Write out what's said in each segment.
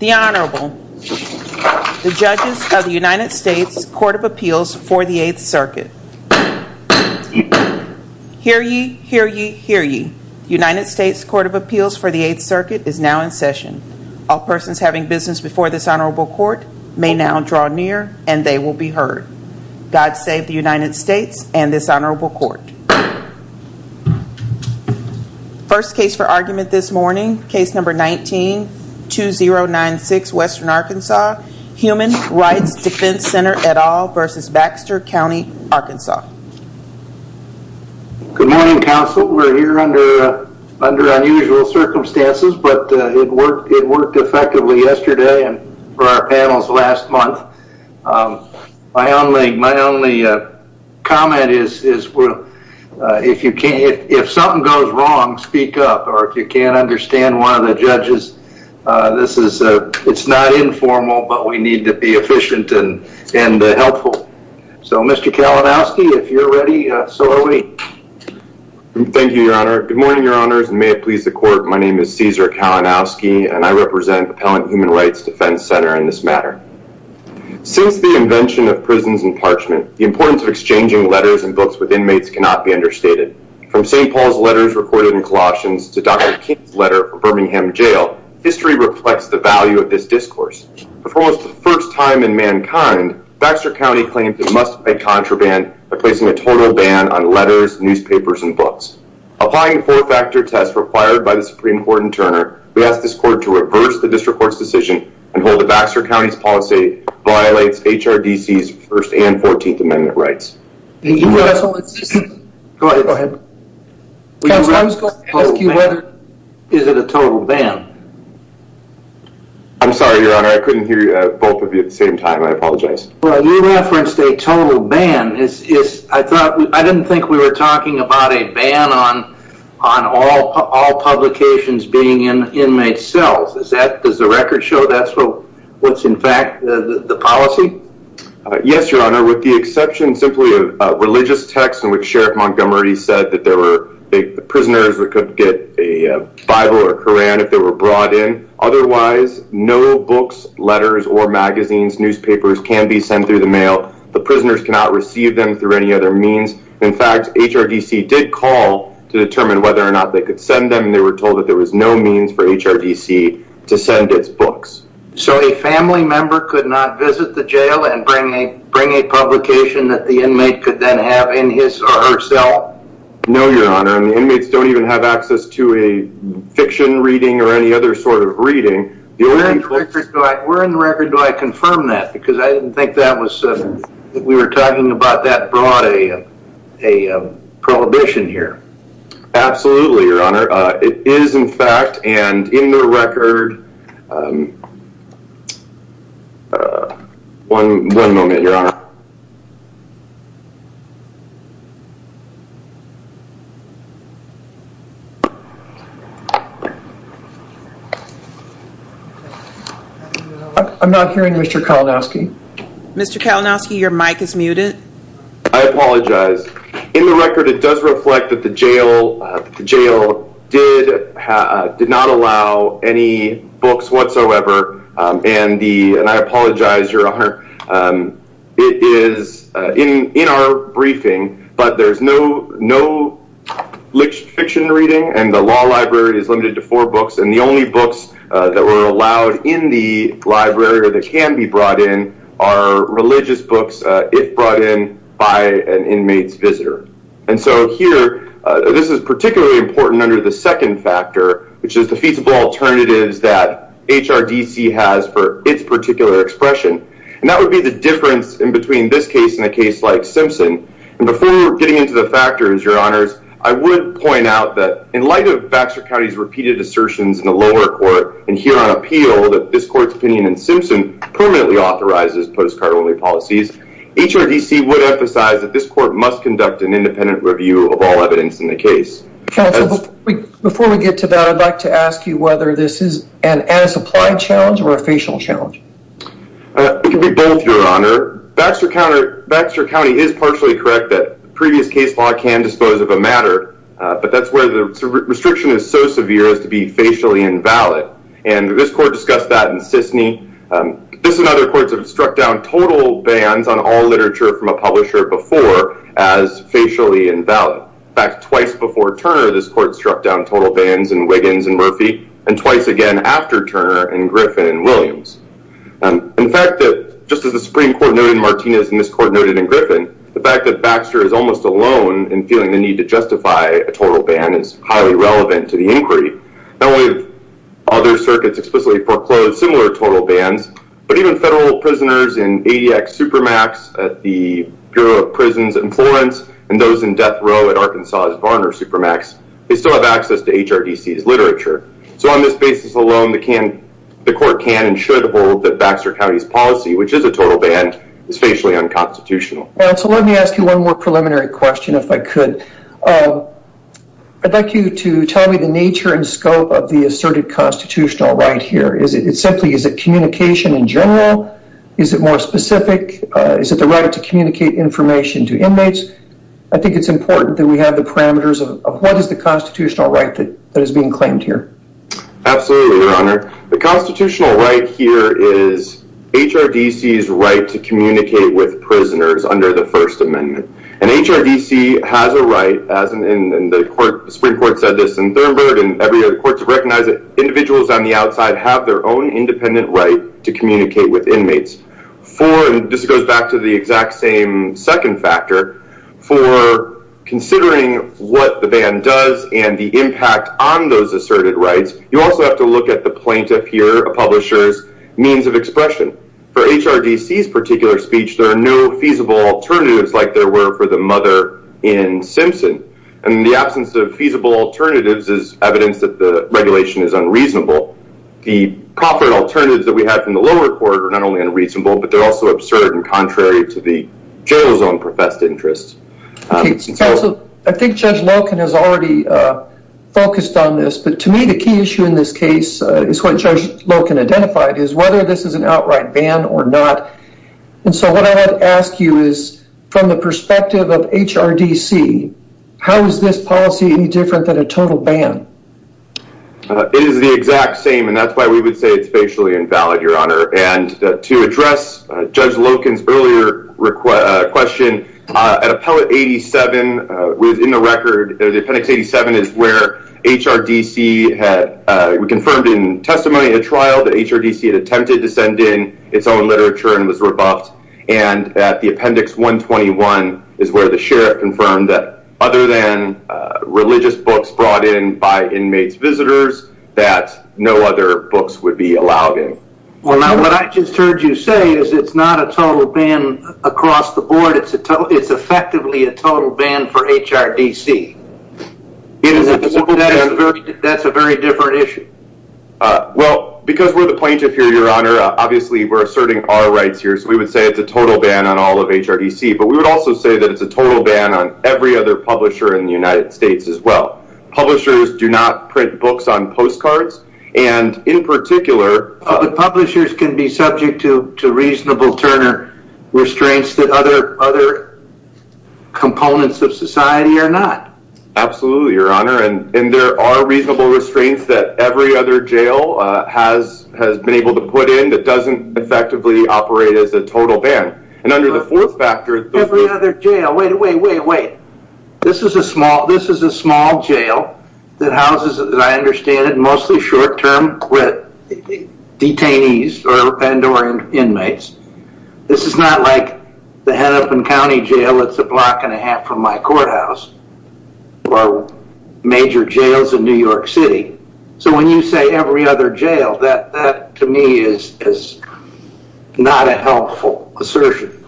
The Honorable, the Judges of the United States Court of Appeals for the 8th Circuit. Hear ye, hear ye, hear ye. United States Court of Appeals for the 8th Circuit is now in session. All persons having business before this Honorable Court may now draw near and they will be heard. God save the United States and this Honorable Court. First case for argument this morning, case number 19-2096 Western Arkansas, Human Rights Defense Center et al. v. Baxter County Arkansas. Good morning counsel. We're here under unusual circumstances but it worked effectively yesterday and for our panels last month. My only comment is if something goes wrong speak up or if you can't understand one of the judges. It's not informal but we need to be efficient and helpful. So Mr. Kalinowski if you're ready so are we. Thank you Your Honor. Good morning Your Honors and may it please the Court. My name is Cesar Kalinowski and I represent Appellant Human Rights Defense Center in this matter. Since the invention of prisons and parchment, the importance of exchanging letters and books with inmates cannot be understated. From St. Paul's letters recorded in Colossians to Dr. King's letter for Birmingham Jail, history reflects the value of this discourse. For almost the first time in mankind, Baxter County claims it must pay contraband by placing a total ban on letters, newspapers, and books. Applying the four-factor test required by the and hold the Baxter County's policy violates HRDC's First and Fourteenth Amendment rights. Is it a total ban? I'm sorry Your Honor I couldn't hear both of you at the same time. I apologize. Well you referenced a total ban. I thought I didn't think we were talking about a ban on all publications being in inmate cells. Does the record show that's what's in fact the policy? Yes Your Honor with the exception simply of religious texts in which Sheriff Montgomery said that there were prisoners that could get a Bible or Koran if they were brought in. Otherwise no books, letters, or magazines, newspapers can be sent through the mail. The prisoners cannot receive them through any other means. In fact HRDC did call to determine whether or not they could send them. They were told that there was no means for HRDC to send its books. So a family member could not visit the jail and bring a bring a publication that the inmate could then have in his or her cell? No Your Honor and the inmates don't even have access to a fiction reading or any other sort of reading. Where in the record do I confirm that because I didn't think that was that we were talking about that brought a a prohibition here? Absolutely Your Honor. It is in fact and in the record. One moment Your Honor. I'm not hearing Mr. Kalinowski. Mr. Kalinowski your mic is muted. I apologize. In the record it does reflect that the jail the jail did did not allow any books whatsoever and the and I apologize Your Honor. It is in in our briefing but there's no no fiction reading and the law library is limited to four books and the only books that were allowed in the library that can be brought in are religious books if brought in by an inmate's visitor. And so here this is particularly important under the second factor which is the alternatives that HRDC has for its particular expression and that would be the difference in between this case and a case like Simpson. And before we're getting into the factors Your Honors I would point out that in light of Baxter County's repeated assertions in the lower court and here on appeal that this court's opinion in Simpson permanently authorizes postcard only policies HRDC would emphasize that this court must conduct an independent review of all evidence in the case. Counsel before we get to that I'd like to ask you whether this is an as applied challenge or a facial challenge. It could be both Your Honor. Baxter County is partially correct that previous case law can dispose of a matter but that's where the restriction is so severe as to be facially invalid and this court discussed that in Sisney. This and other courts have struck down total bans on all literature from a publisher before as facially invalid. In fact twice before Turner this court struck down total bans in Wiggins and Murphy and twice again after Turner in Griffin and Williams. And in fact that just as the Supreme Court noted in Martinez and this court noted in Griffin the fact that Baxter is almost alone in feeling the need to justify a total ban is highly relevant to the inquiry. Now with other circuits explicitly foreclosed similar total bans but even federal prisoners in ADX Supermax at the Bureau of Prisons in Florence and those in death row at Arkansas's Varner Supermax they still have access to HRDC's literature. So on this basis alone the court can and should hold that Baxter County's policy which is a total ban is facially unconstitutional. So let me ask you one more preliminary question if I could. I'd like you to tell me the nature and scope of the asserted constitutional right here. Is it simply is it communication in general? Is it more specific? Is it the right to communicate information to inmates? I think it's important that we have the parameters of what is the constitutional right that that is being claimed here. Absolutely your honor. The constitutional right here is HRDC's right to communicate with prisoners under the First Amendment. And HRDC has a right as in the court Supreme Court said this in Thurnberg and every other court to recognize that individuals on the outside have their own independent right to communicate with inmates. For and this goes back to the exact same second factor for considering what the ban does and the impact on those asserted rights you also have to look at the plaintiff here a publisher's means of expression. For HRDC's particular speech there are no feasible alternatives like there were for the mother in Simpson and in the absence of feasible alternatives is evidence that the regulation is unreasonable. The profit alternatives that we have from the lower court are not only unreasonable but they're also absurd and contrary to the jail zone professed interests. I think Judge Loken has already focused on this but to me the key issue in this case is what Judge Loken identified is whether this is an outright ban or not. And so what I would ask you is from the perspective of HRDC how is this policy any different than a total ban? It is the exact same and that's why we would say it's facially invalid your honor and to address Judge Loken's earlier request question at appellate 87 within the record the appendix 87 is where HRDC had we confirmed in testimony at a trial that HRDC had attempted to send in its own literature and was rebuffed and that the appendix 121 is where the sheriff confirmed that other than religious books brought in by inmates visitors that no other books would be allowed in. Well now what I just heard you say is it's not a total ban across the board it's a total it's effectively a total ban for HRDC. That's a very different issue. Well because we're the plaintiff here your honor obviously we're asserting our rights here so we would say it's a total ban on all of HRDC but we would also say that it's a total ban on every other publisher in the United States as well. Publishers do not print books on postcards and in particular. Publishers can be subject to to reasonable Turner restraints that other other components of society are not. Absolutely your honor and and there are reasonable restraints that every other jail has has been able to put in that doesn't effectively operate as a total ban and under the fourth factor. Every other jail wait wait wait wait this is a small this is a small jail that houses that I understand it mostly short-term with detainees or and or inmates. This is not like the Hennepin County Jail it's a block and a half from my courthouse or major jails in New York City. So when you say every other jail that that to me is is not a helpful assertion.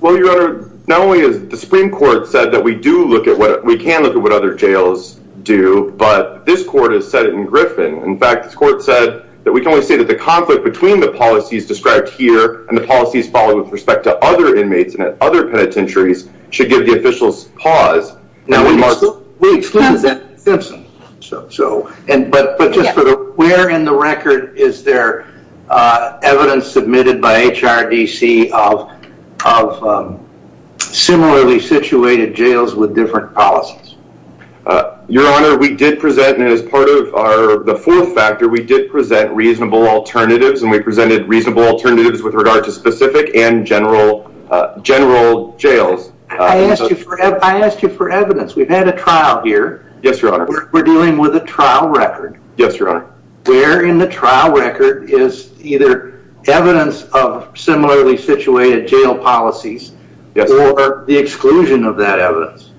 Well your honor not only is the Supreme Court said that we do look at what we can look at what other jails do but this court has said it in Griffin. In fact this court said that we can only say that the conflict between the policies described here and the policies followed with respect to other inmates and at other penitentiaries should give the officials pause. Now we mark we exclude that Simpson so so and but but just for the where in the record is there evidence submitted by HRDC of of similarly situated jails with different policies? Your honor we did present and as part of our the fourth factor we did present reasonable alternatives and we presented reasonable alternatives with regard to specific and general general jails. I asked you for I asked you for evidence we've had a trial here. Yes your honor. We're dealing with a trial record. Yes your honor. Where in the trial record is either evidence of similarly situated jail policies or the exclusion of that evidence?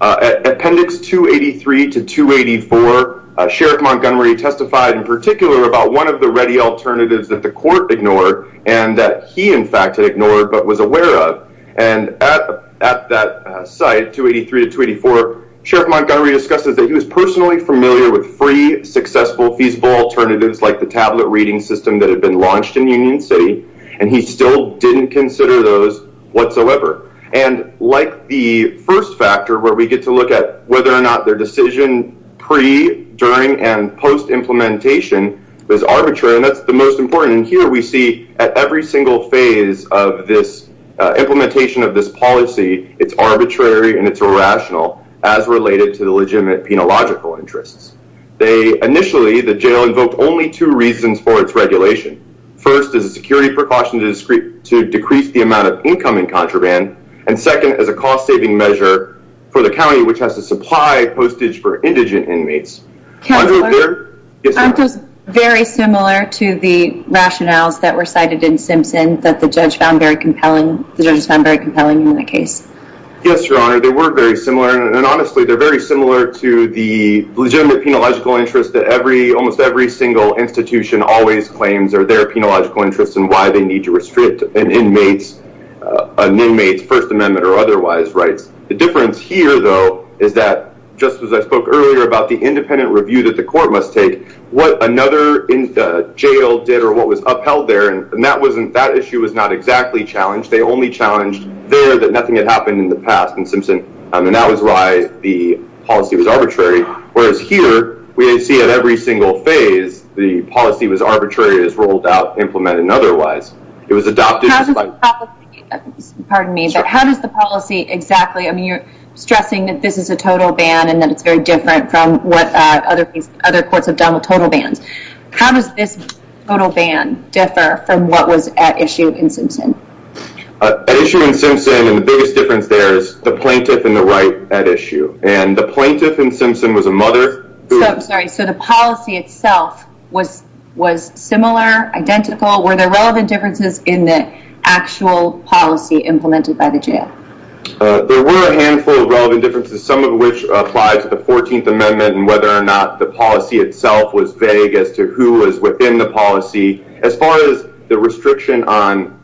At appendix 283 to 284 Sheriff Montgomery testified in particular about one of the ready alternatives that the court ignored and that he in fact had ignored but was aware of and at at that site 283 to 284 Sheriff Montgomery discusses that he was personally familiar with free successful feasible alternatives like the tablet reading system that had been launched in Union City and he still didn't consider those whatsoever and like the first factor where we get to look at whether or not there was a reasonable alternative to the jail policy. He said that their decision pre during and post implementation is arbitrary and that's the most important here we see every single phase of this implementation of this policy, it's arbitrary and it's irrational as related to the legitimate in a logical interests. They initially the jail invoked only 2 reasons for its regulation first as a security precaution to decrease the amount of income in contraband and second as a cost-saving measure for the county which has to supply postage for indigent inmates. Aren't those very similar to the rationales that were cited in Simpson that the judge found very compelling the judges found very compelling in the case? Yes your honor they were very similar and honestly they're very similar to the legitimate penological interest that every single institution always claims or their penological interests and why they need to restrict an inmate's first amendment or otherwise rights. The difference here though is that just as I spoke earlier about the independent review that the court must take what another in the jail did or what was upheld there and that wasn't that issue was not exactly challenged they only challenged there that nothing had happened in the past in Simpson and that was why the policy was arbitrary whereas here we see at every single phase the policy was arbitrary as rolled out implemented and otherwise it was adopted. Pardon me but how does the policy exactly I mean you're stressing that this is a total ban and that it's very different from what other other courts have done with total bans. How does this total ban differ from what was at issue in Simpson? At issue in Simpson and the biggest difference there is the plaintiff and the right at issue and the plaintiff in Simpson was a mother. So I'm sorry so the policy itself was was similar identical were there relevant differences in the actual policy implemented by the jail? There were a handful of relevant differences some of which apply to the 14th amendment and whether or not the policy itself was vague as to who was within the policy as far as the restriction on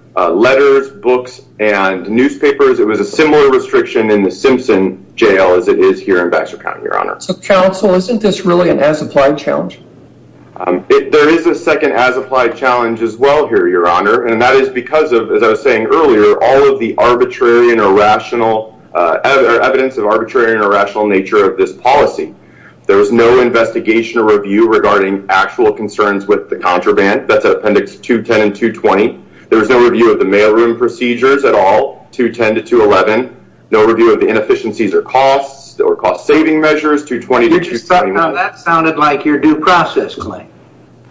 jail as it is here in Baxter County your honor. So counsel isn't this really an as-applied challenge? There is a second as-applied challenge as well here your honor and that is because of as I was saying earlier all of the arbitrary and irrational evidence of arbitrary and irrational nature of this policy. There was no investigation or review regarding actual concerns with the contraband that's at appendix 210 and 220. There was no review of the mailroom procedures at all 210 to 211. No review of the inefficiencies or costs or cost-saving measures 220 to 211. That sounded like your due process claim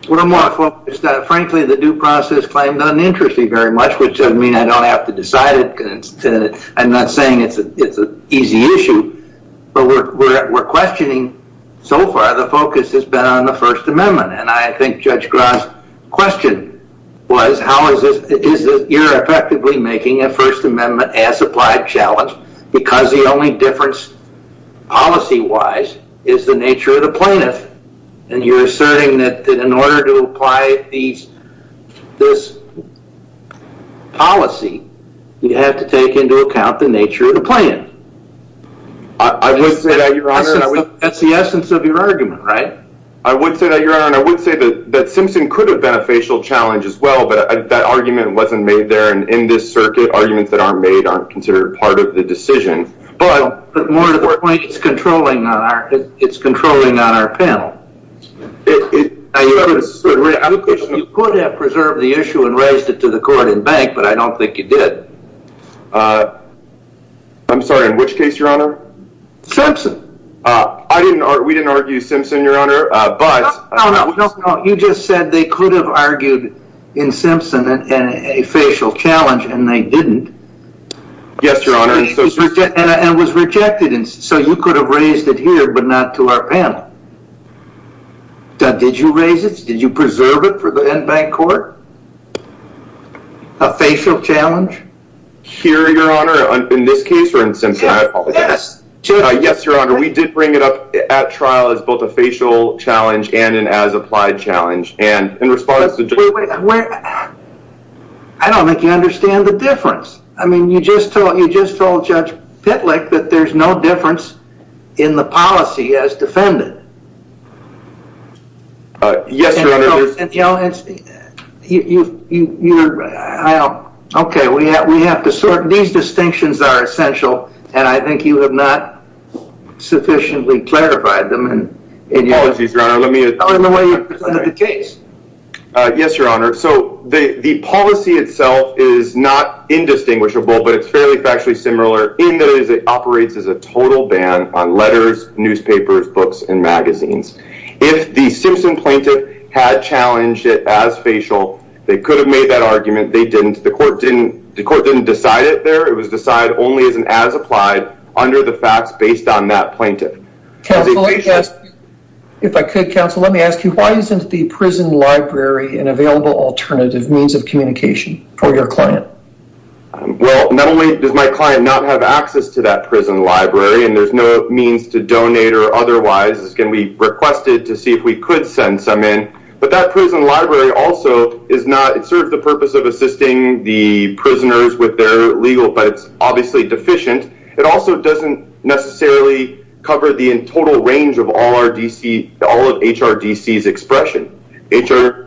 a little more focused frankly the due process claim doesn't interest me very much which doesn't mean I don't have to decide it. I'm not saying it's a it's an easy issue but we're questioning so far the focus has been on the first amendment and I think Judge question was how is this is that you're effectively making a first amendment as-applied challenge because the only difference policy-wise is the nature of the plaintiff and you're asserting that that in order to apply these this policy you have to take into account the nature of the plan. I would say that your honor that's the essence of your argument right? I would say that your could have been a facial challenge as well but that argument wasn't made there and in this circuit arguments that are made aren't considered part of the decision. But more to the point it's controlling on our it's controlling on our panel. You could have preserved the issue and raised it to the court and bank but I don't think you did. I'm sorry in which case your honor? Simpson. Uh I didn't or we didn't argue Simpson your honor uh but no no no you just said they could have argued in Simpson and a facial challenge and they didn't. Yes your honor. And was rejected and so you could have raised it here but not to our panel. Did you raise it? Did you preserve it for the in-bank court? A facial challenge? Here your honor in this case or in Simpson. Yes yes your honor we did bring it up at trial as both a facial challenge and an as applied challenge and in response to. Wait wait I don't think you understand the difference. I mean you just told you just told Judge Pitlick that there's no difference in the policy as defended. Uh yes your honor. And you know it's you you you you're I don't okay we have we have to sort these distinctions are essential and I think you have not sufficiently clarified them and in your apologies your honor let me tell them the way you presented the case. Uh yes your honor so the the policy itself is not indistinguishable but it's fairly factually similar in that it operates as a total ban on letters, newspapers, books, and magazines. If the Simpson plaintiff had challenged it as facial they could have made that argument they didn't the court didn't the it was decided only as an as applied under the facts based on that plaintiff. Counselor yes if I could counsel let me ask you why isn't the prison library an available alternative means of communication for your client? Well not only does my client not have access to that prison library and there's no means to donate or otherwise it's going to be requested to see if we could send some in but that prison library also is not it serves the purpose of assisting the prisoners with their legal but it's obviously deficient it also doesn't necessarily cover the in total range of all our dc all of HRDC's expression HR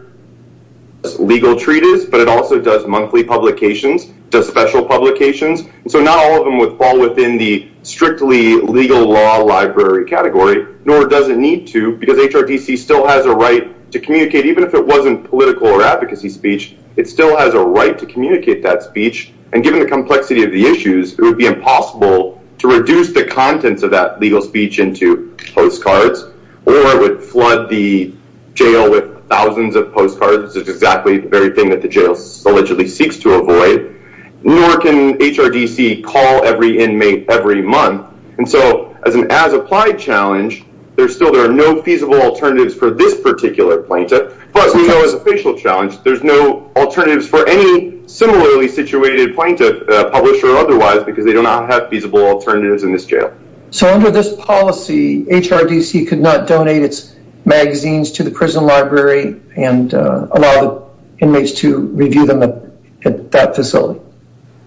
legal treatise but it also does monthly publications does special publications so not all of them would fall within the strictly legal law library category nor does it need to because HRDC still has a right to communicate even if it wasn't political or advocacy speech it still has a right to communicate that speech and given the complexity of the issues it would be impossible to reduce the contents of that legal speech into postcards or would flood the jail with thousands of postcards it's exactly the very thing that the jail allegedly seeks to avoid nor can HRDC call every inmate every month and so as an as applied challenge there's still there are no feasible alternatives for this particular plaintiff plus you know as a facial challenge there's no alternatives for any similarly situated plaintiff publisher or otherwise because they do not have feasible alternatives in this jail so under this policy HRDC could not donate its magazines to the prison library and allow the inmates to review them at that facility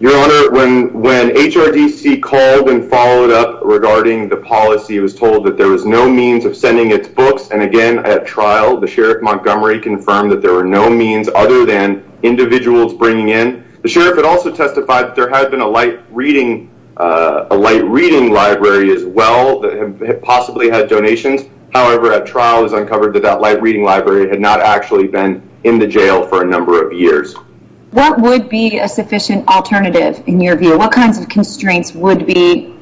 your honor when when HRDC called and followed up regarding the policy was told that there was no means of sending its books and again at trial the Montgomery confirmed that there were no means other than individuals bringing in the sheriff had also testified that there had been a light reading a light reading library as well that possibly had donations however at trial is uncovered that that light reading library had not actually been in the jail for a number of years what would be a sufficient alternative in your view what kinds of constraints would be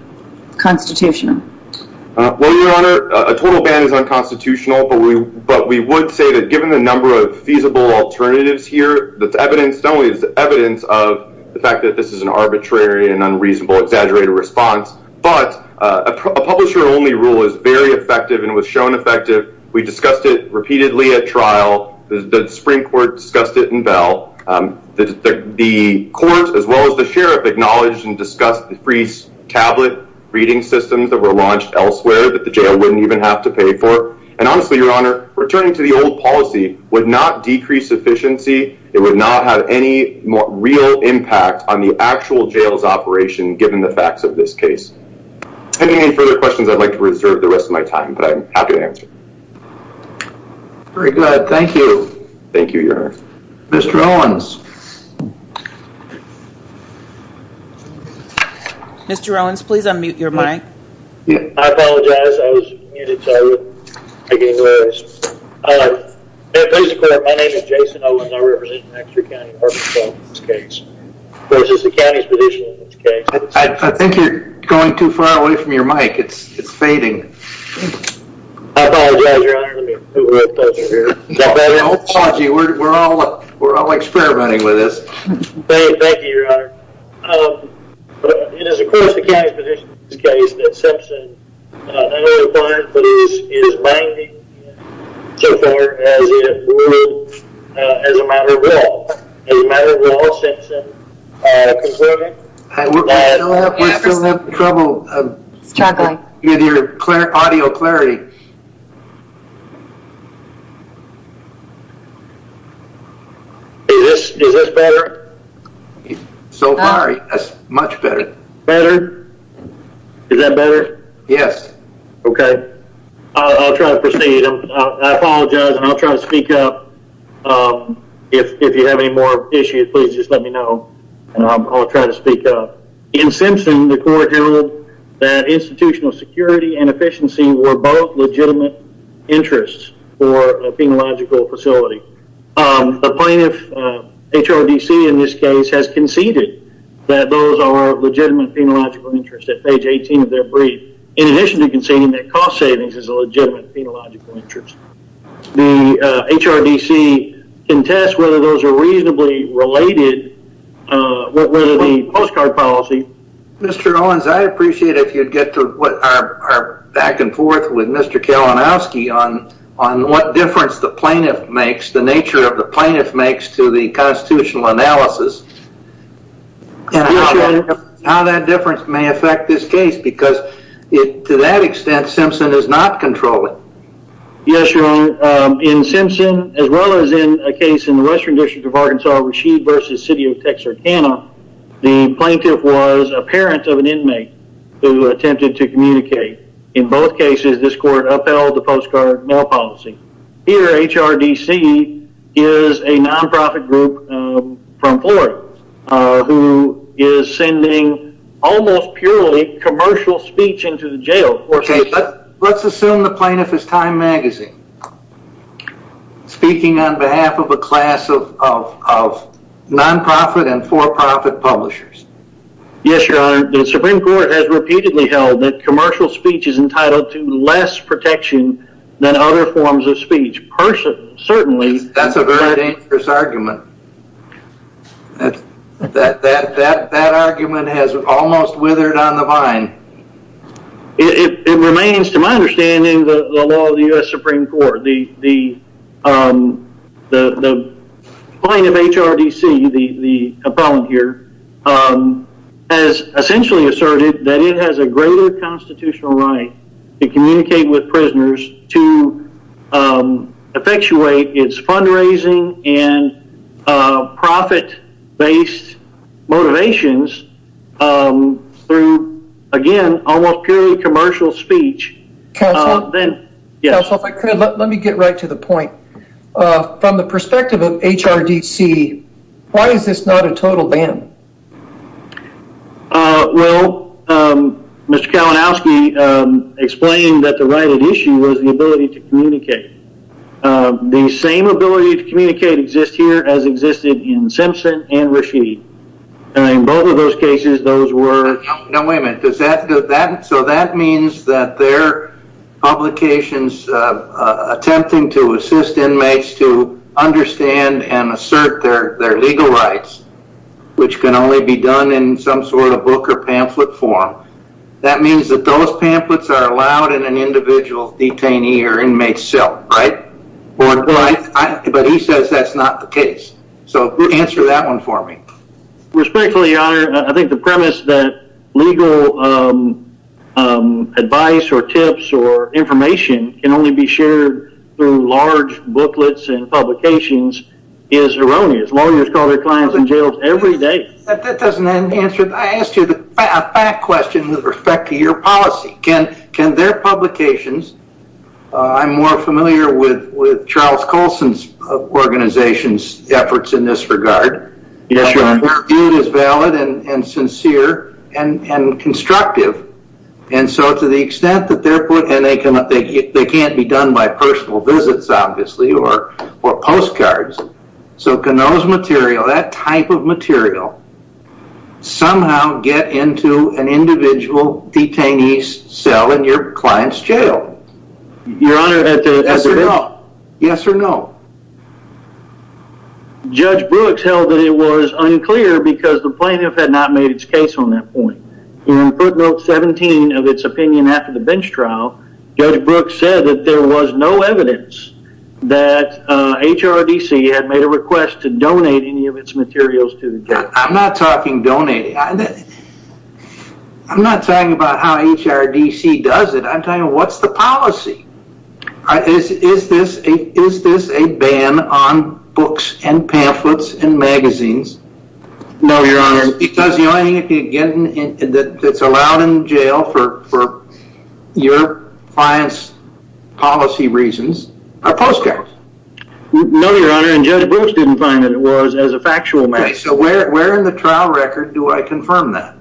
constitutional well your honor a total ban is unconstitutional but we but we would say that given the number of feasible alternatives here that's evidence not only is evidence of the fact that this is an arbitrary and unreasonable exaggerated response but a publisher only rule is very effective and was shown effective we discussed it repeatedly at trial the Supreme Court discussed it in bell the the court as well as the sheriff acknowledged and discussed the free tablet reading systems that were launched elsewhere that the jail wouldn't even have to pay for and honestly your honor returning to the old policy would not decrease efficiency it would not have any more real impact on the actual jails operation given the facts of this case any further questions i'd like to reserve the rest of my time but i'm happy to answer very good thank you thank you your honor mr owens Mr. Owens, please unmute your mic. I apologize, I was muted so I wouldn't make any noise. Please record, my name is Jason Owens, I represent Maxwell County, Arkansas in this case. This is the county's position in this case. I think you're going too far away from your mic it's it's fading. I apologize, your honor. We're all we're all experimenting with this. Thank you, your honor. It is, of course, the county's position in this case that Simpson not only fired, but is maimed and so forth as a matter of law. As a matter of law, Simpson concluded that We're still having trouble with your audio clarity. Is this better? So far, yes, much better. Better? Is that better? Yes. Okay, I'll try to proceed. I apologize and I'll try to speak up if you have any more issues please just let me know and I'll try to speak up. In Simpson, the court held that institutional security and efficiency were both legitimate interests for a phenological facility. The plaintiff, HRDC in this case, has conceded that those are legitimate interest at page 18 of their brief. In addition to conceding that cost savings is a legitimate interest. The HRDC can test whether those are reasonably related with the postcard policy. Mr. Owens, I appreciate if you'd get to what our back and forth with Mr. Kalinowski on on what difference the plaintiff makes, the nature of the plaintiff makes to the constitutional analysis. And how that difference may affect this case because to that extent, Simpson is not controlling. Yes, Your Honor. In Simpson, as well as in a case in the Western District of Arkansas, Rashid v. City of Texarkana, the plaintiff was a parent of an inmate who attempted to communicate. In both cases, this court upheld the postcard policy. Here, HRDC is a non-profit group from Florida who is sending almost purely commercial speech into the jail. Let's assume the plaintiff is Time Magazine. Speaking on behalf of a class of non-profit and for-profit publishers. Yes, Your Honor. The Supreme Court has repeatedly held that commercial speech is entitled to less protection than other forms of speech. That's a very dangerous argument. That argument has almost withered on the vine. It remains, to my understanding, the law of the U.S. Supreme Court. The plaintiff, HRDC, the appellant here, has essentially asserted that it has a greater constitutional right to communicate with prisoners to effectuate its fundraising and profit-based motivations through, again, almost purely commercial speech. Counsel, if I could, let me get right to the point. From the perspective of HRDC, why is this not a total ban? Well, Mr. Kalinowski explained that the right at issue was the ability to communicate. The same ability to communicate exists here as existed in Simpson and Rashid. Wait a minute. So that means that their publications attempting to assist inmates to understand and assert their legal rights, which can only be done in some sort of book or pamphlet form, that means that those pamphlets are allowed in an individual detainee or inmate cell, right? But he says that's not the case. So answer that one for me. Respectfully, Your Honor, I think the premise that legal advice or tips or information can only be shared through large booklets and publications is erroneous. Lawyers call their clients in jails every day. That doesn't answer it. I asked you a fact question with respect to your policy. Can their publications, I'm more familiar with Charles Coulson's organization's efforts in this regard. Yes, Your Honor. It is valid and sincere and constructive. And so to the extent that they can't be done by personal visits, obviously, or postcards. So can those material, that type of material, somehow get into an individual detainee's cell in your client's jail? Your Honor. Yes or no? Yes or no. Judge Brooks held that it was unclear because the plaintiff had not made its case on that point. In footnote 17 of its opinion after the bench trial, Judge Brooks said that there was no evidence that HRDC had made a request to donate any of its materials to the jail. I'm not talking donating. I'm not talking about how HRDC does it. I'm talking about what's the policy? Is this a ban on books and pamphlets and magazines? No, Your Honor. Because the only thing that's allowed in jail for your client's policy reasons are postcards. No, Your Honor, and Judge Brooks didn't find that it was as a factual matter. Okay, so where in the trial record do I confirm that?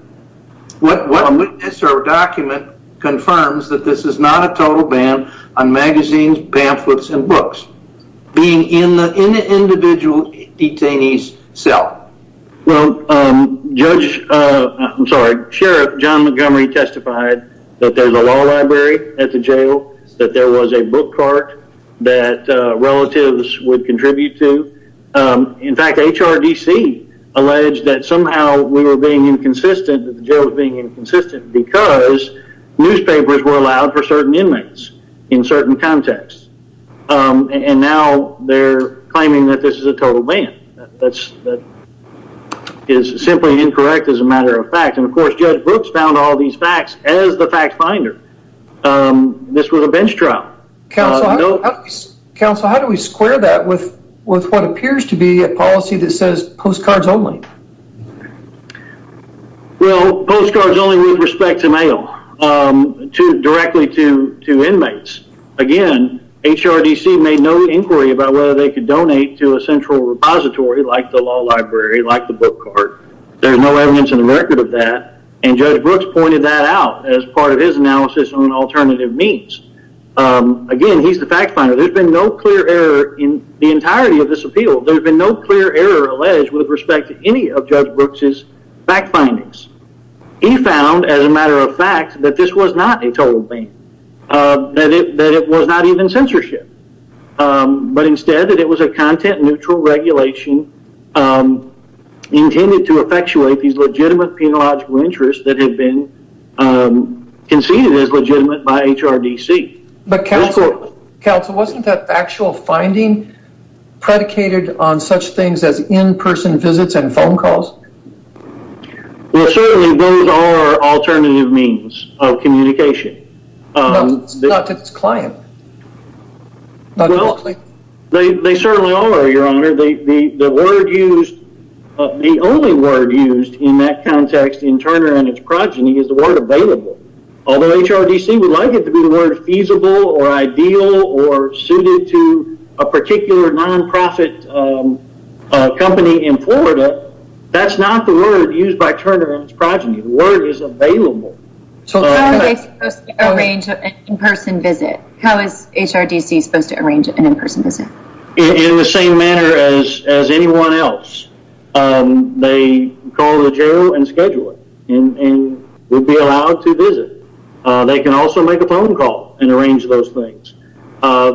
Our document confirms that this is not a total ban on magazines, pamphlets, and books being in the individual detainee's cell. Well, Sheriff John Montgomery testified that there's a law library at the jail, that there was a book cart that relatives would contribute to. In fact, HRDC alleged that somehow we were being inconsistent, that the jail was being inconsistent because newspapers were allowed for certain inmates in certain contexts. And now they're claiming that this is a total ban. That is simply incorrect as a matter of fact, and of course, Judge Brooks found all these facts as the fact finder. This was a bench trial. Counsel, how do we square that with what appears to be a policy that says postcards only? Well, postcards only with respect to mail, directly to inmates. Again, HRDC made no inquiry about whether they could donate to a central repository like the law library, like the book cart. There's no evidence in the record of that, and Judge Brooks pointed that out as part of his analysis on alternative means. Again, he's the fact finder. There's been no clear error in the entirety of this appeal. There's been no clear error alleged with respect to any of Judge Brooks' fact findings. He found, as a matter of fact, that this was not a total ban. That it was not even censorship. But instead that it was a content-neutral regulation intended to effectuate these legitimate penological interests that had been conceded as legitimate by HRDC. But, Counsel, wasn't that factual finding predicated on such things as in-person visits and phone calls? Well, certainly those are alternative means of communication. Not to this client. They certainly are, Your Honor. The only word used in that context in Turner and his progeny is the word available. Although HRDC would like it to be the word feasible or ideal or suited to a particular non-profit company in Florida, that's not the word used by Turner and his progeny. The word is available. How are they supposed to arrange an in-person visit? How is HRDC supposed to arrange an in-person visit? In the same manner as anyone else. They call the jail and schedule it. And we'll be allowed to visit. They can also make a phone call and arrange those things.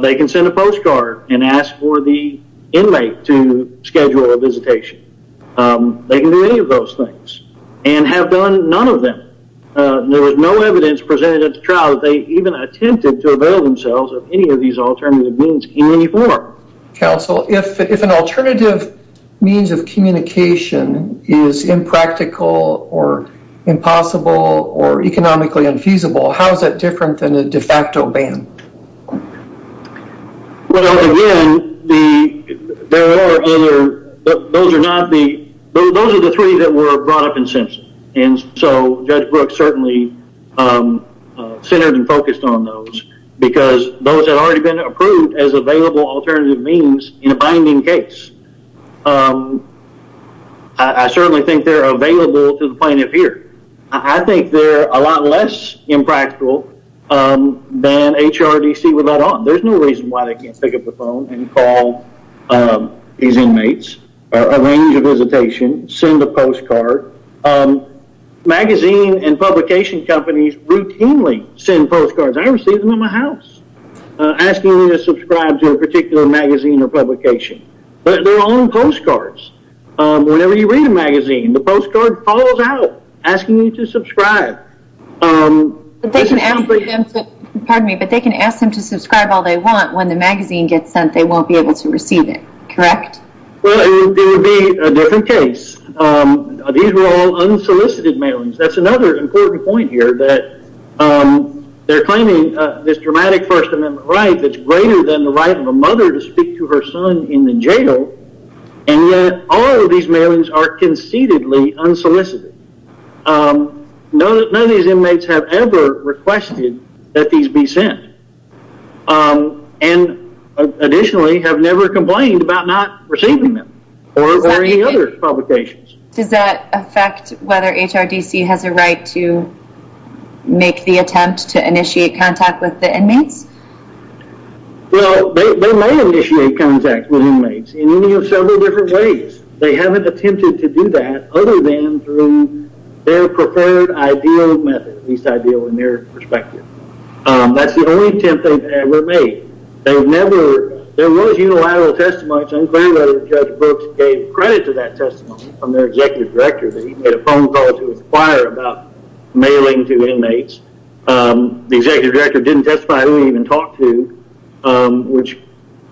They can send a postcard and ask for the inmate to schedule a visitation. They can do any of those things. And have done none of them. There was no evidence presented at the trial that they even attempted to avail themselves of any of these alternative means in any form. Counsel, if an alternative means of communication is impractical or impossible or economically infeasible, how is that different than a de facto ban? Well, again, those are the three that were brought up in Simpson. And so Judge Brooks certainly centered and focused on those. Because those have already been approved as available alternative means in a binding case. I certainly think they're available to the point of fear. I think they're a lot less impractical than HRDC would let on. There's no reason why they can't pick up the phone and call these inmates. Arrange a visitation. Send a postcard. Magazine and publication companies routinely send postcards. I don't receive them in my house. Asking me to subscribe to a particular magazine or publication. But they're on postcards. Whenever you read a magazine, the postcard falls out asking you to subscribe. But they can ask them to subscribe all they want. When the magazine gets sent, they won't be able to receive it. Correct? Well, it would be a different case. These were all unsolicited mailings. That's another important point here. They're claiming this dramatic First Amendment right that's greater than the right of a mother to speak to her son in the jail. And yet, all of these mailings are conceitedly unsolicited. None of these inmates have ever requested that these be sent. And additionally, have never complained about not receiving them. Or any other publications. Does that affect whether HRDC has a right to make the attempt to initiate contact with the inmates? Well, they may initiate contact with inmates in any of several different ways. They haven't attempted to do that other than through their preferred ideal method. At least ideal in their perspective. That's the only attempt they've ever made. There was unilateral testimony. Judge Brooks gave credit to that testimony from their executive director. He made a phone call to his choir about mailing to inmates. The executive director didn't testify. He didn't even talk to. Which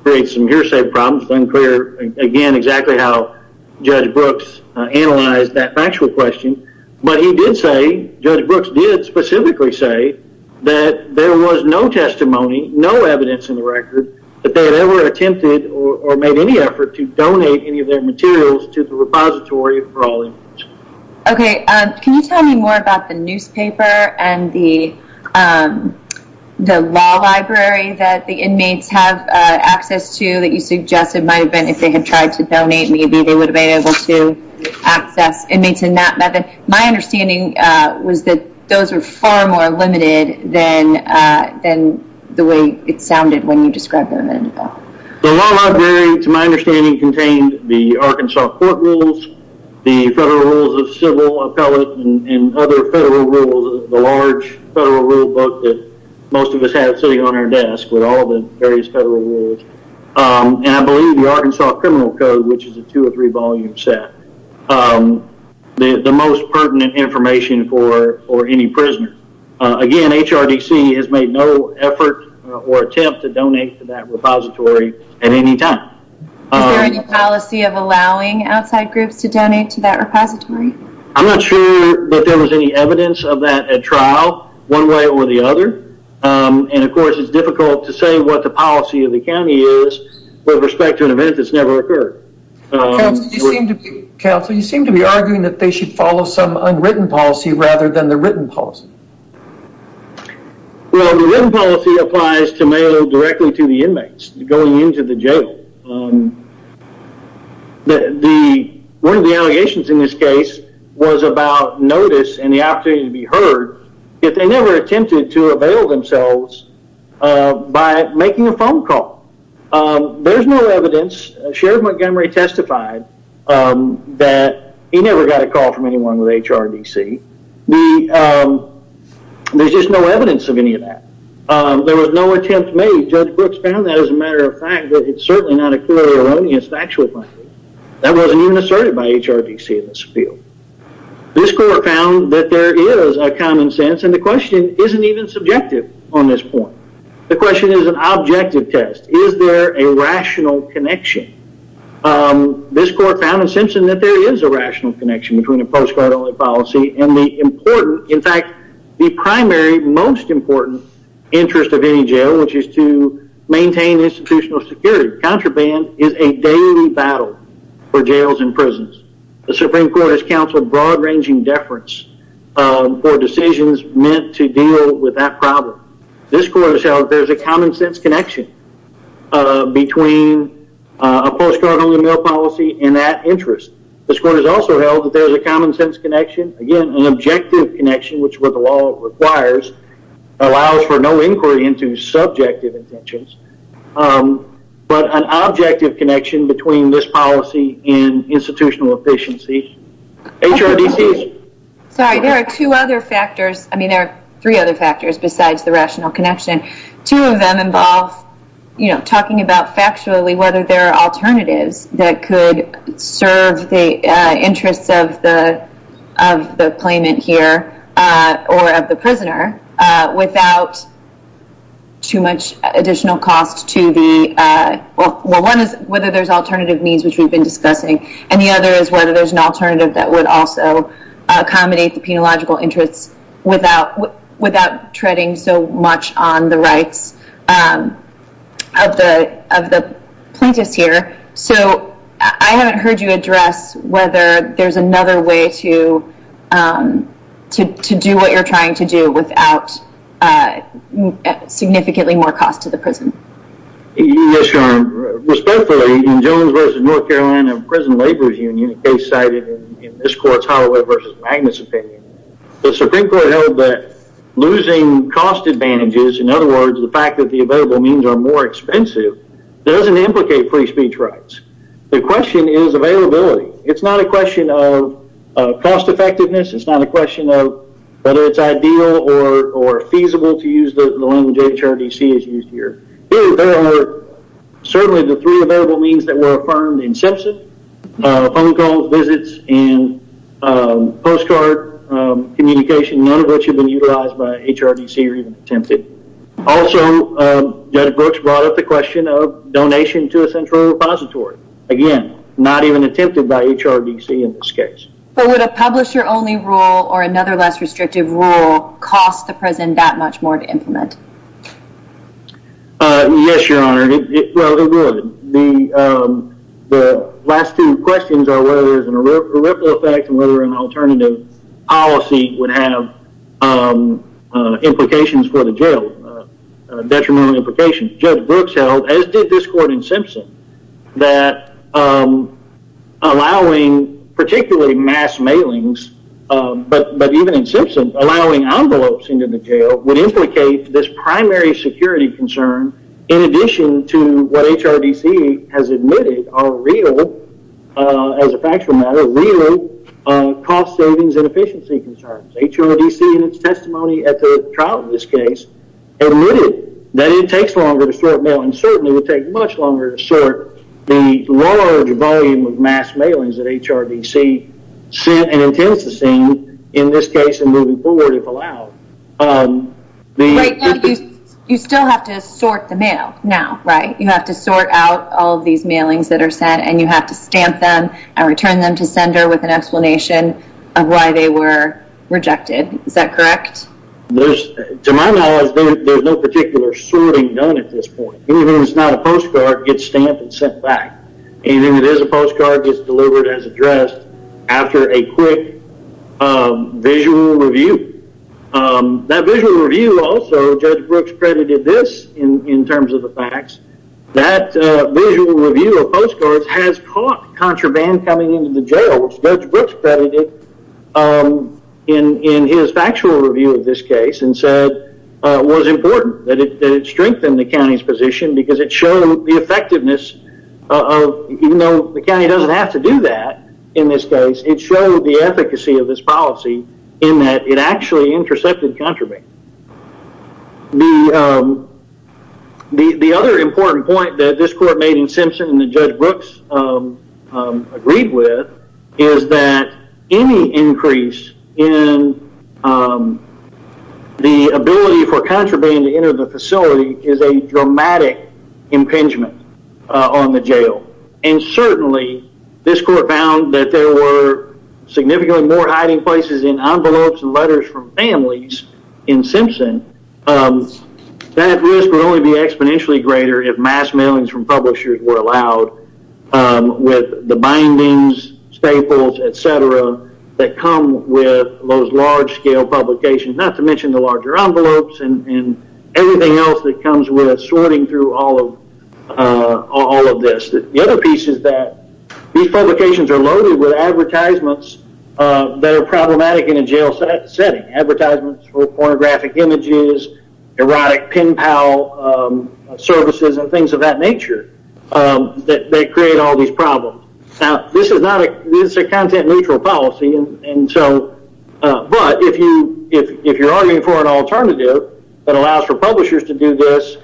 creates some hearsay problems. It's unclear, again, exactly how Judge Brooks analyzed that factual question. But he did say, Judge Brooks did specifically say, that there was no testimony, no evidence in the record, that they had ever attempted or made any effort to donate any of their materials to the repository for all inmates. Okay, can you tell me more about the newspaper and the law library that the inmates have access to, that you suggested might have been, if they had tried to donate, maybe they would have been able to access inmates in that method. My understanding was that those were far more limited than the way it sounded when you described them. The law library, to my understanding, contained the Arkansas court rules, the federal rules of civil appellate, and other federal rules, the large federal rule book that most of us have sitting on our desk with all the various federal rules. And I believe the Arkansas criminal code, which is a two or three volume set, the most pertinent information for any prisoner. Again, HRDC has made no effort or attempt to donate to that repository at any time. Is there any policy of allowing outside groups to donate to that repository? I'm not sure that there was any evidence of that at trial, one way or the other. And of course, it's difficult to say what the policy of the county is with respect to an event that's never occurred. Counsel, you seem to be arguing that they should follow some unwritten policy rather than the written policy. Well, the written policy applies to mail directly to the inmates going into the jail. One of the allegations in this case was about notice and the opportunity to be heard, yet they never attempted to avail themselves by making a phone call. There's no evidence. Sheriff Montgomery testified that he never got a call from anyone with HRDC. There's just no evidence of any of that. There was no attempt made. Judge Brooks found that as a matter of fact, but it's certainly not a clearly erroneous factual finding. That wasn't even asserted by HRDC in this field. This court found that there is a common sense, and the question isn't even subjective on this point. The question is an objective test. Is there a rational connection? This court found in Simpson that there is a rational connection between the post-court only policy and the important, in fact, the primary most important interest of any jail, which is to maintain institutional security. Contraband is a daily battle for jails and prisons. The Supreme Court has counseled broad ranging deference for decisions meant to deal with that problem. This court has held that there is a common sense connection between a post-court only mail policy and that interest. This court has also held that there is a common sense connection, again, an objective connection, which is what the law requires, allows for no inquiry into subjective intentions, but an objective connection between this policy and institutional efficiency. Sorry, there are two other factors. I mean, there are three other factors besides the rational connection. Two of them involve talking about factually whether there are alternatives that could serve the interests of the claimant here or of the prisoner without too much additional cost to the... Well, one is whether there's alternative means, which we've been discussing, and the other is whether there's an alternative that would also accommodate the penological interests without treading so much on the rights of the plaintiffs here. So I haven't heard you address whether there's another way to do what you're trying to do without significantly more cost to the prison. Yes, Your Honor. Respectfully, in Jones v. North Carolina Prison Laborers Union, a case cited in this court's Holloway v. Magnus opinion, the Supreme Court held that losing cost advantages, in other words, the fact that the available means are more expensive, doesn't implicate free speech rights. The question is availability. It's not a question of cost effectiveness. It's not a question of whether it's ideal or feasible to use the language HRDC is used here. There are certainly the three available means that were affirmed in Simpson, phone calls, visits, and postcard communication, none of which have been utilized by HRDC or even attempted. Also, Judge Brooks brought up the question of donation to a central repository. Again, not even attempted by HRDC in this case. But would a publisher-only rule or another less restrictive rule cost the prison that much more to implement? Yes, Your Honor. Well, it would. The last two questions are whether there's an irreparable effect and whether an alternative policy would have implications for the jail, Judge Brooks held, as did this court in Simpson, that allowing particularly mass mailings, but even in Simpson, allowing envelopes into the jail would implicate this primary security concern in addition to what HRDC has admitted are real, as a factual matter, real cost savings and efficiency concerns. HRDC in its testimony at the trial in this case admitted that it takes longer to sort mail and certainly would take much longer to sort the large volume of mass mailings that HRDC sent and intends to send in this case and moving forward if allowed. Right, you still have to sort the mail now, right? You have to sort out all of these mailings that are sent and you have to stamp them and return them to sender with an explanation of why they were rejected. Is that correct? To my knowledge, there's no particular sorting done at this point. Anything that's not a postcard gets stamped and sent back. Anything that is a postcard gets delivered as addressed after a quick visual review. That visual review also, Judge Brooks credited this in terms of the facts, that visual review of postcards has caught contraband coming into the jail, which Judge Brooks credited in his factual review of this case and said was important, that it strengthened the county's position because it showed the effectiveness of, even though the county doesn't have to do that in this case, it showed the efficacy of this policy in that it actually intercepted contraband. The other important point that this court made in Simpson and that Judge Brooks agreed with is that any increase in the ability for contraband to enter the facility is a dramatic impingement on the jail. And certainly, this court found that there were significantly more hiding places in envelopes and letters from families in Simpson. That risk would only be exponentially greater if mass mailings from publishers were allowed with the bindings, staples, etc. that come with those large-scale publications, not to mention the larger envelopes and everything else that comes with sorting through all of this. The other piece is that these publications are loaded with advertisements that are problematic in a jail setting. Advertisements for pornographic images, erotic pen pal services, and things of that nature that create all these problems. Now, this is a content-neutral policy, but if you're arguing for an alternative that allows for publishers to do this,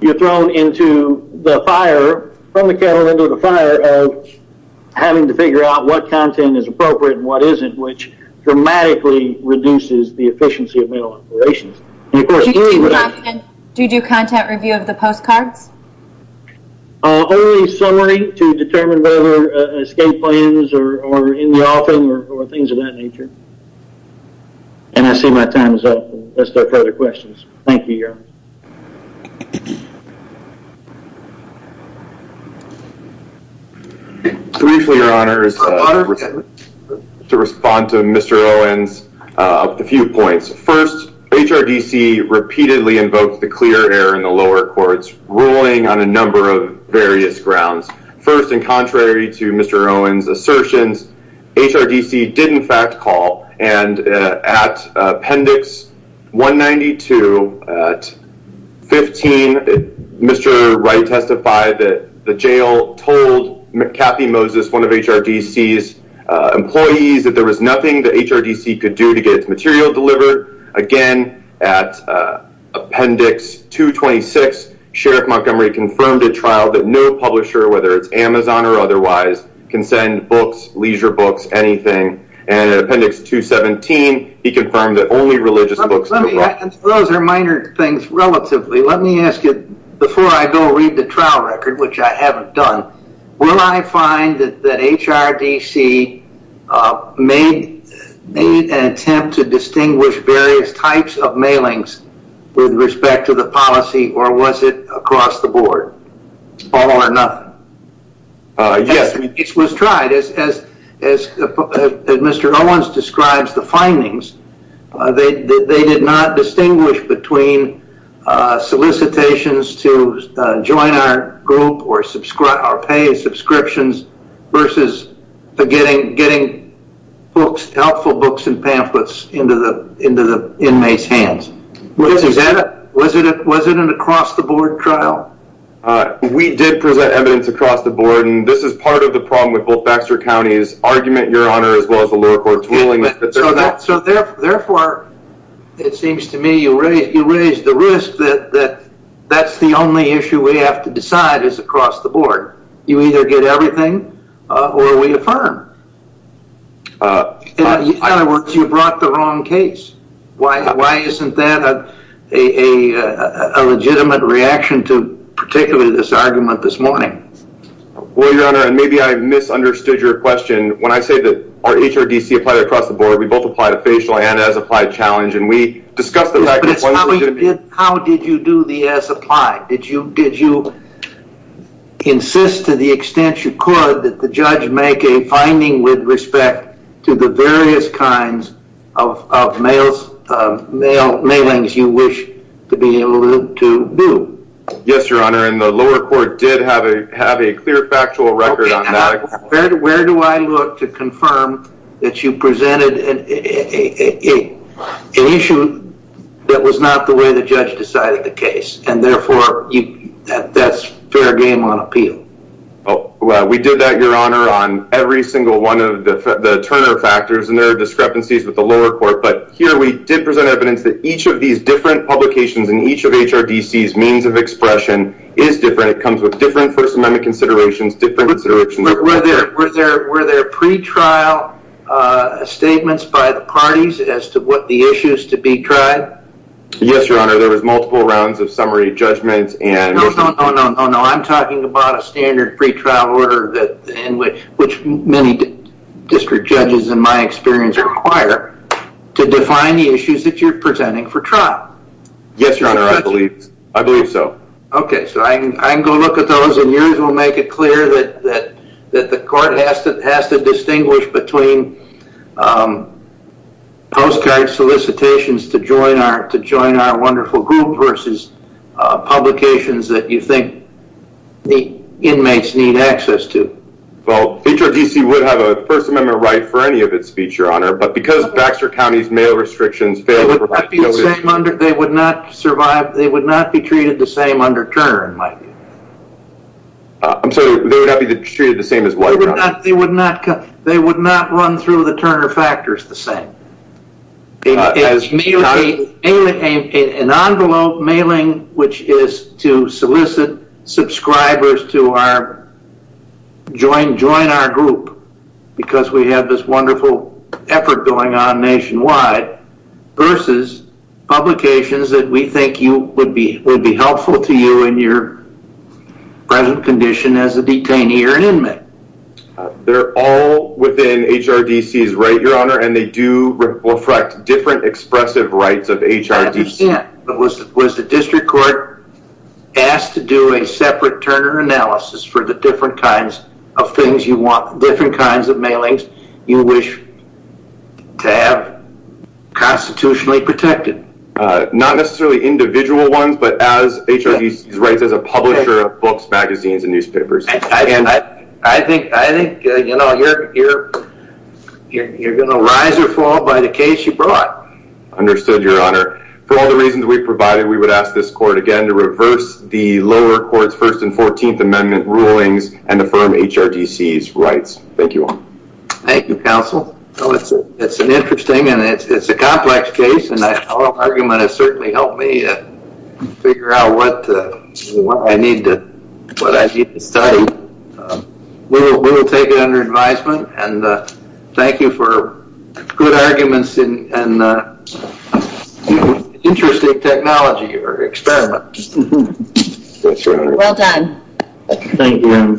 you're thrown into the fire, from the kettle into the fire, of having to figure out what content is appropriate and what isn't, which dramatically reduces the efficiency of mail operations. Do you do content review of the postcards? Only summary to determine whether escape plans are in the offing or things of that nature. And I see my time is up. Are there further questions? Thank you, Your Honor. Briefly, Your Honor, to respond to Mr. Owens, a few points. First, HRDC repeatedly invoked the clear air in the lower courts, ruling on a number of various grounds. First, and contrary to Mr. Owens' assertions, HRDC did, in fact, call. And at Appendix 192, at 15, Mr. Wright testified that the jail told Kathy Moses, one of HRDC's employees, that there was nothing that HRDC could do to get its material delivered. Again, at Appendix 226, Sheriff Montgomery confirmed at trial that no publisher, whether it's Amazon or otherwise, can send books, leisure books, anything. And at Appendix 217, he confirmed that only religious books... Those are minor things, relatively. Let me ask you, before I go read the trial record, which I haven't done, will I find that HRDC made an attempt to distinguish various types of mailings with respect to the policy, or was it across the board, all or nothing? Yes, it was tried. As Mr. Owens describes the findings, they did not distinguish between solicitations to join our group or pay subscriptions versus getting helpful books and pamphlets into the inmates' hands. Was it an across-the-board trial? We did present evidence across the board, and this is part of the problem with both Baxter County's argument, Your Honor, as well as the lower court's ruling. So therefore, it seems to me you raised the risk that that's the only issue we have to decide is across the board. You either get everything or we affirm. In other words, you brought the wrong case. Why isn't that a legitimate reaction to particularly this argument this morning? Well, Your Honor, and maybe I misunderstood your question. When I say that HRDC applied across the board, we both applied to facial and as-applied challenge, and we discussed the fact that... How did you do the as-applied? Did you insist to the extent you could that the judge make a finding with respect to the various kinds of mailings you wish to be able to do? Yes, Your Honor, and the lower court did have a clear factual record on that. Where do I look to confirm that you presented an issue that was not the way the judge decided the case, and therefore that's fair game on appeal? We did that, Your Honor, on every single one of the Turner factors, and there are discrepancies with the lower court, but here we did present evidence that each of these different publications and each of HRDC's means of expression is different. It comes with different First Amendment considerations, Were there pre-trial statements by the parties as to what the issues to be tried? Yes, Your Honor, there was multiple rounds of summary judgments and... No, no, no, no, no, I'm talking about a standard pre-trial order which many district judges, in my experience, require to define the issues that you're presenting for trial. Yes, Your Honor, I believe so. Okay, so I can go look at those, and yours will make it clear that the court has to distinguish between postcard solicitations to join our wonderful group versus publications that you think the inmates need access to. Well, HRDC would have a First Amendment right for any of its speech, Your Honor, but because Baxter County's mail restrictions... They would not be treated the same under Turner, in my view. I'm sorry, they would not be treated the same as what... They would not run through the Turner factors the same. An envelope mailing which is to solicit subscribers to join our group because we have this wonderful effort going on nationwide versus publications that we think would be helpful to you in your present condition as a detainee or an inmate. They're all within HRDC's right, Your Honor, and they do reflect different expressive rights of HRDC. I understand, but was the district court asked to do a separate Turner analysis for the different kinds of things you want, the different kinds of mailings you wish to have constitutionally protected? Not necessarily individual ones, but as HRDC's rights as a publisher of books, magazines, and newspapers. I think you're going to rise or fall by the case you brought. Understood, Your Honor. For all the reasons we provided, we would ask this court again to reverse the lower court's First and Fourteenth Amendment rulings and affirm HRDC's rights. Thank you all. Thank you, counsel. It's an interesting and it's a complex case, and our argument has certainly helped me figure out what I need to study. We will take it under advisement, and thank you for good arguments and interesting technology or experiments. Well done. Thank you. Thank you.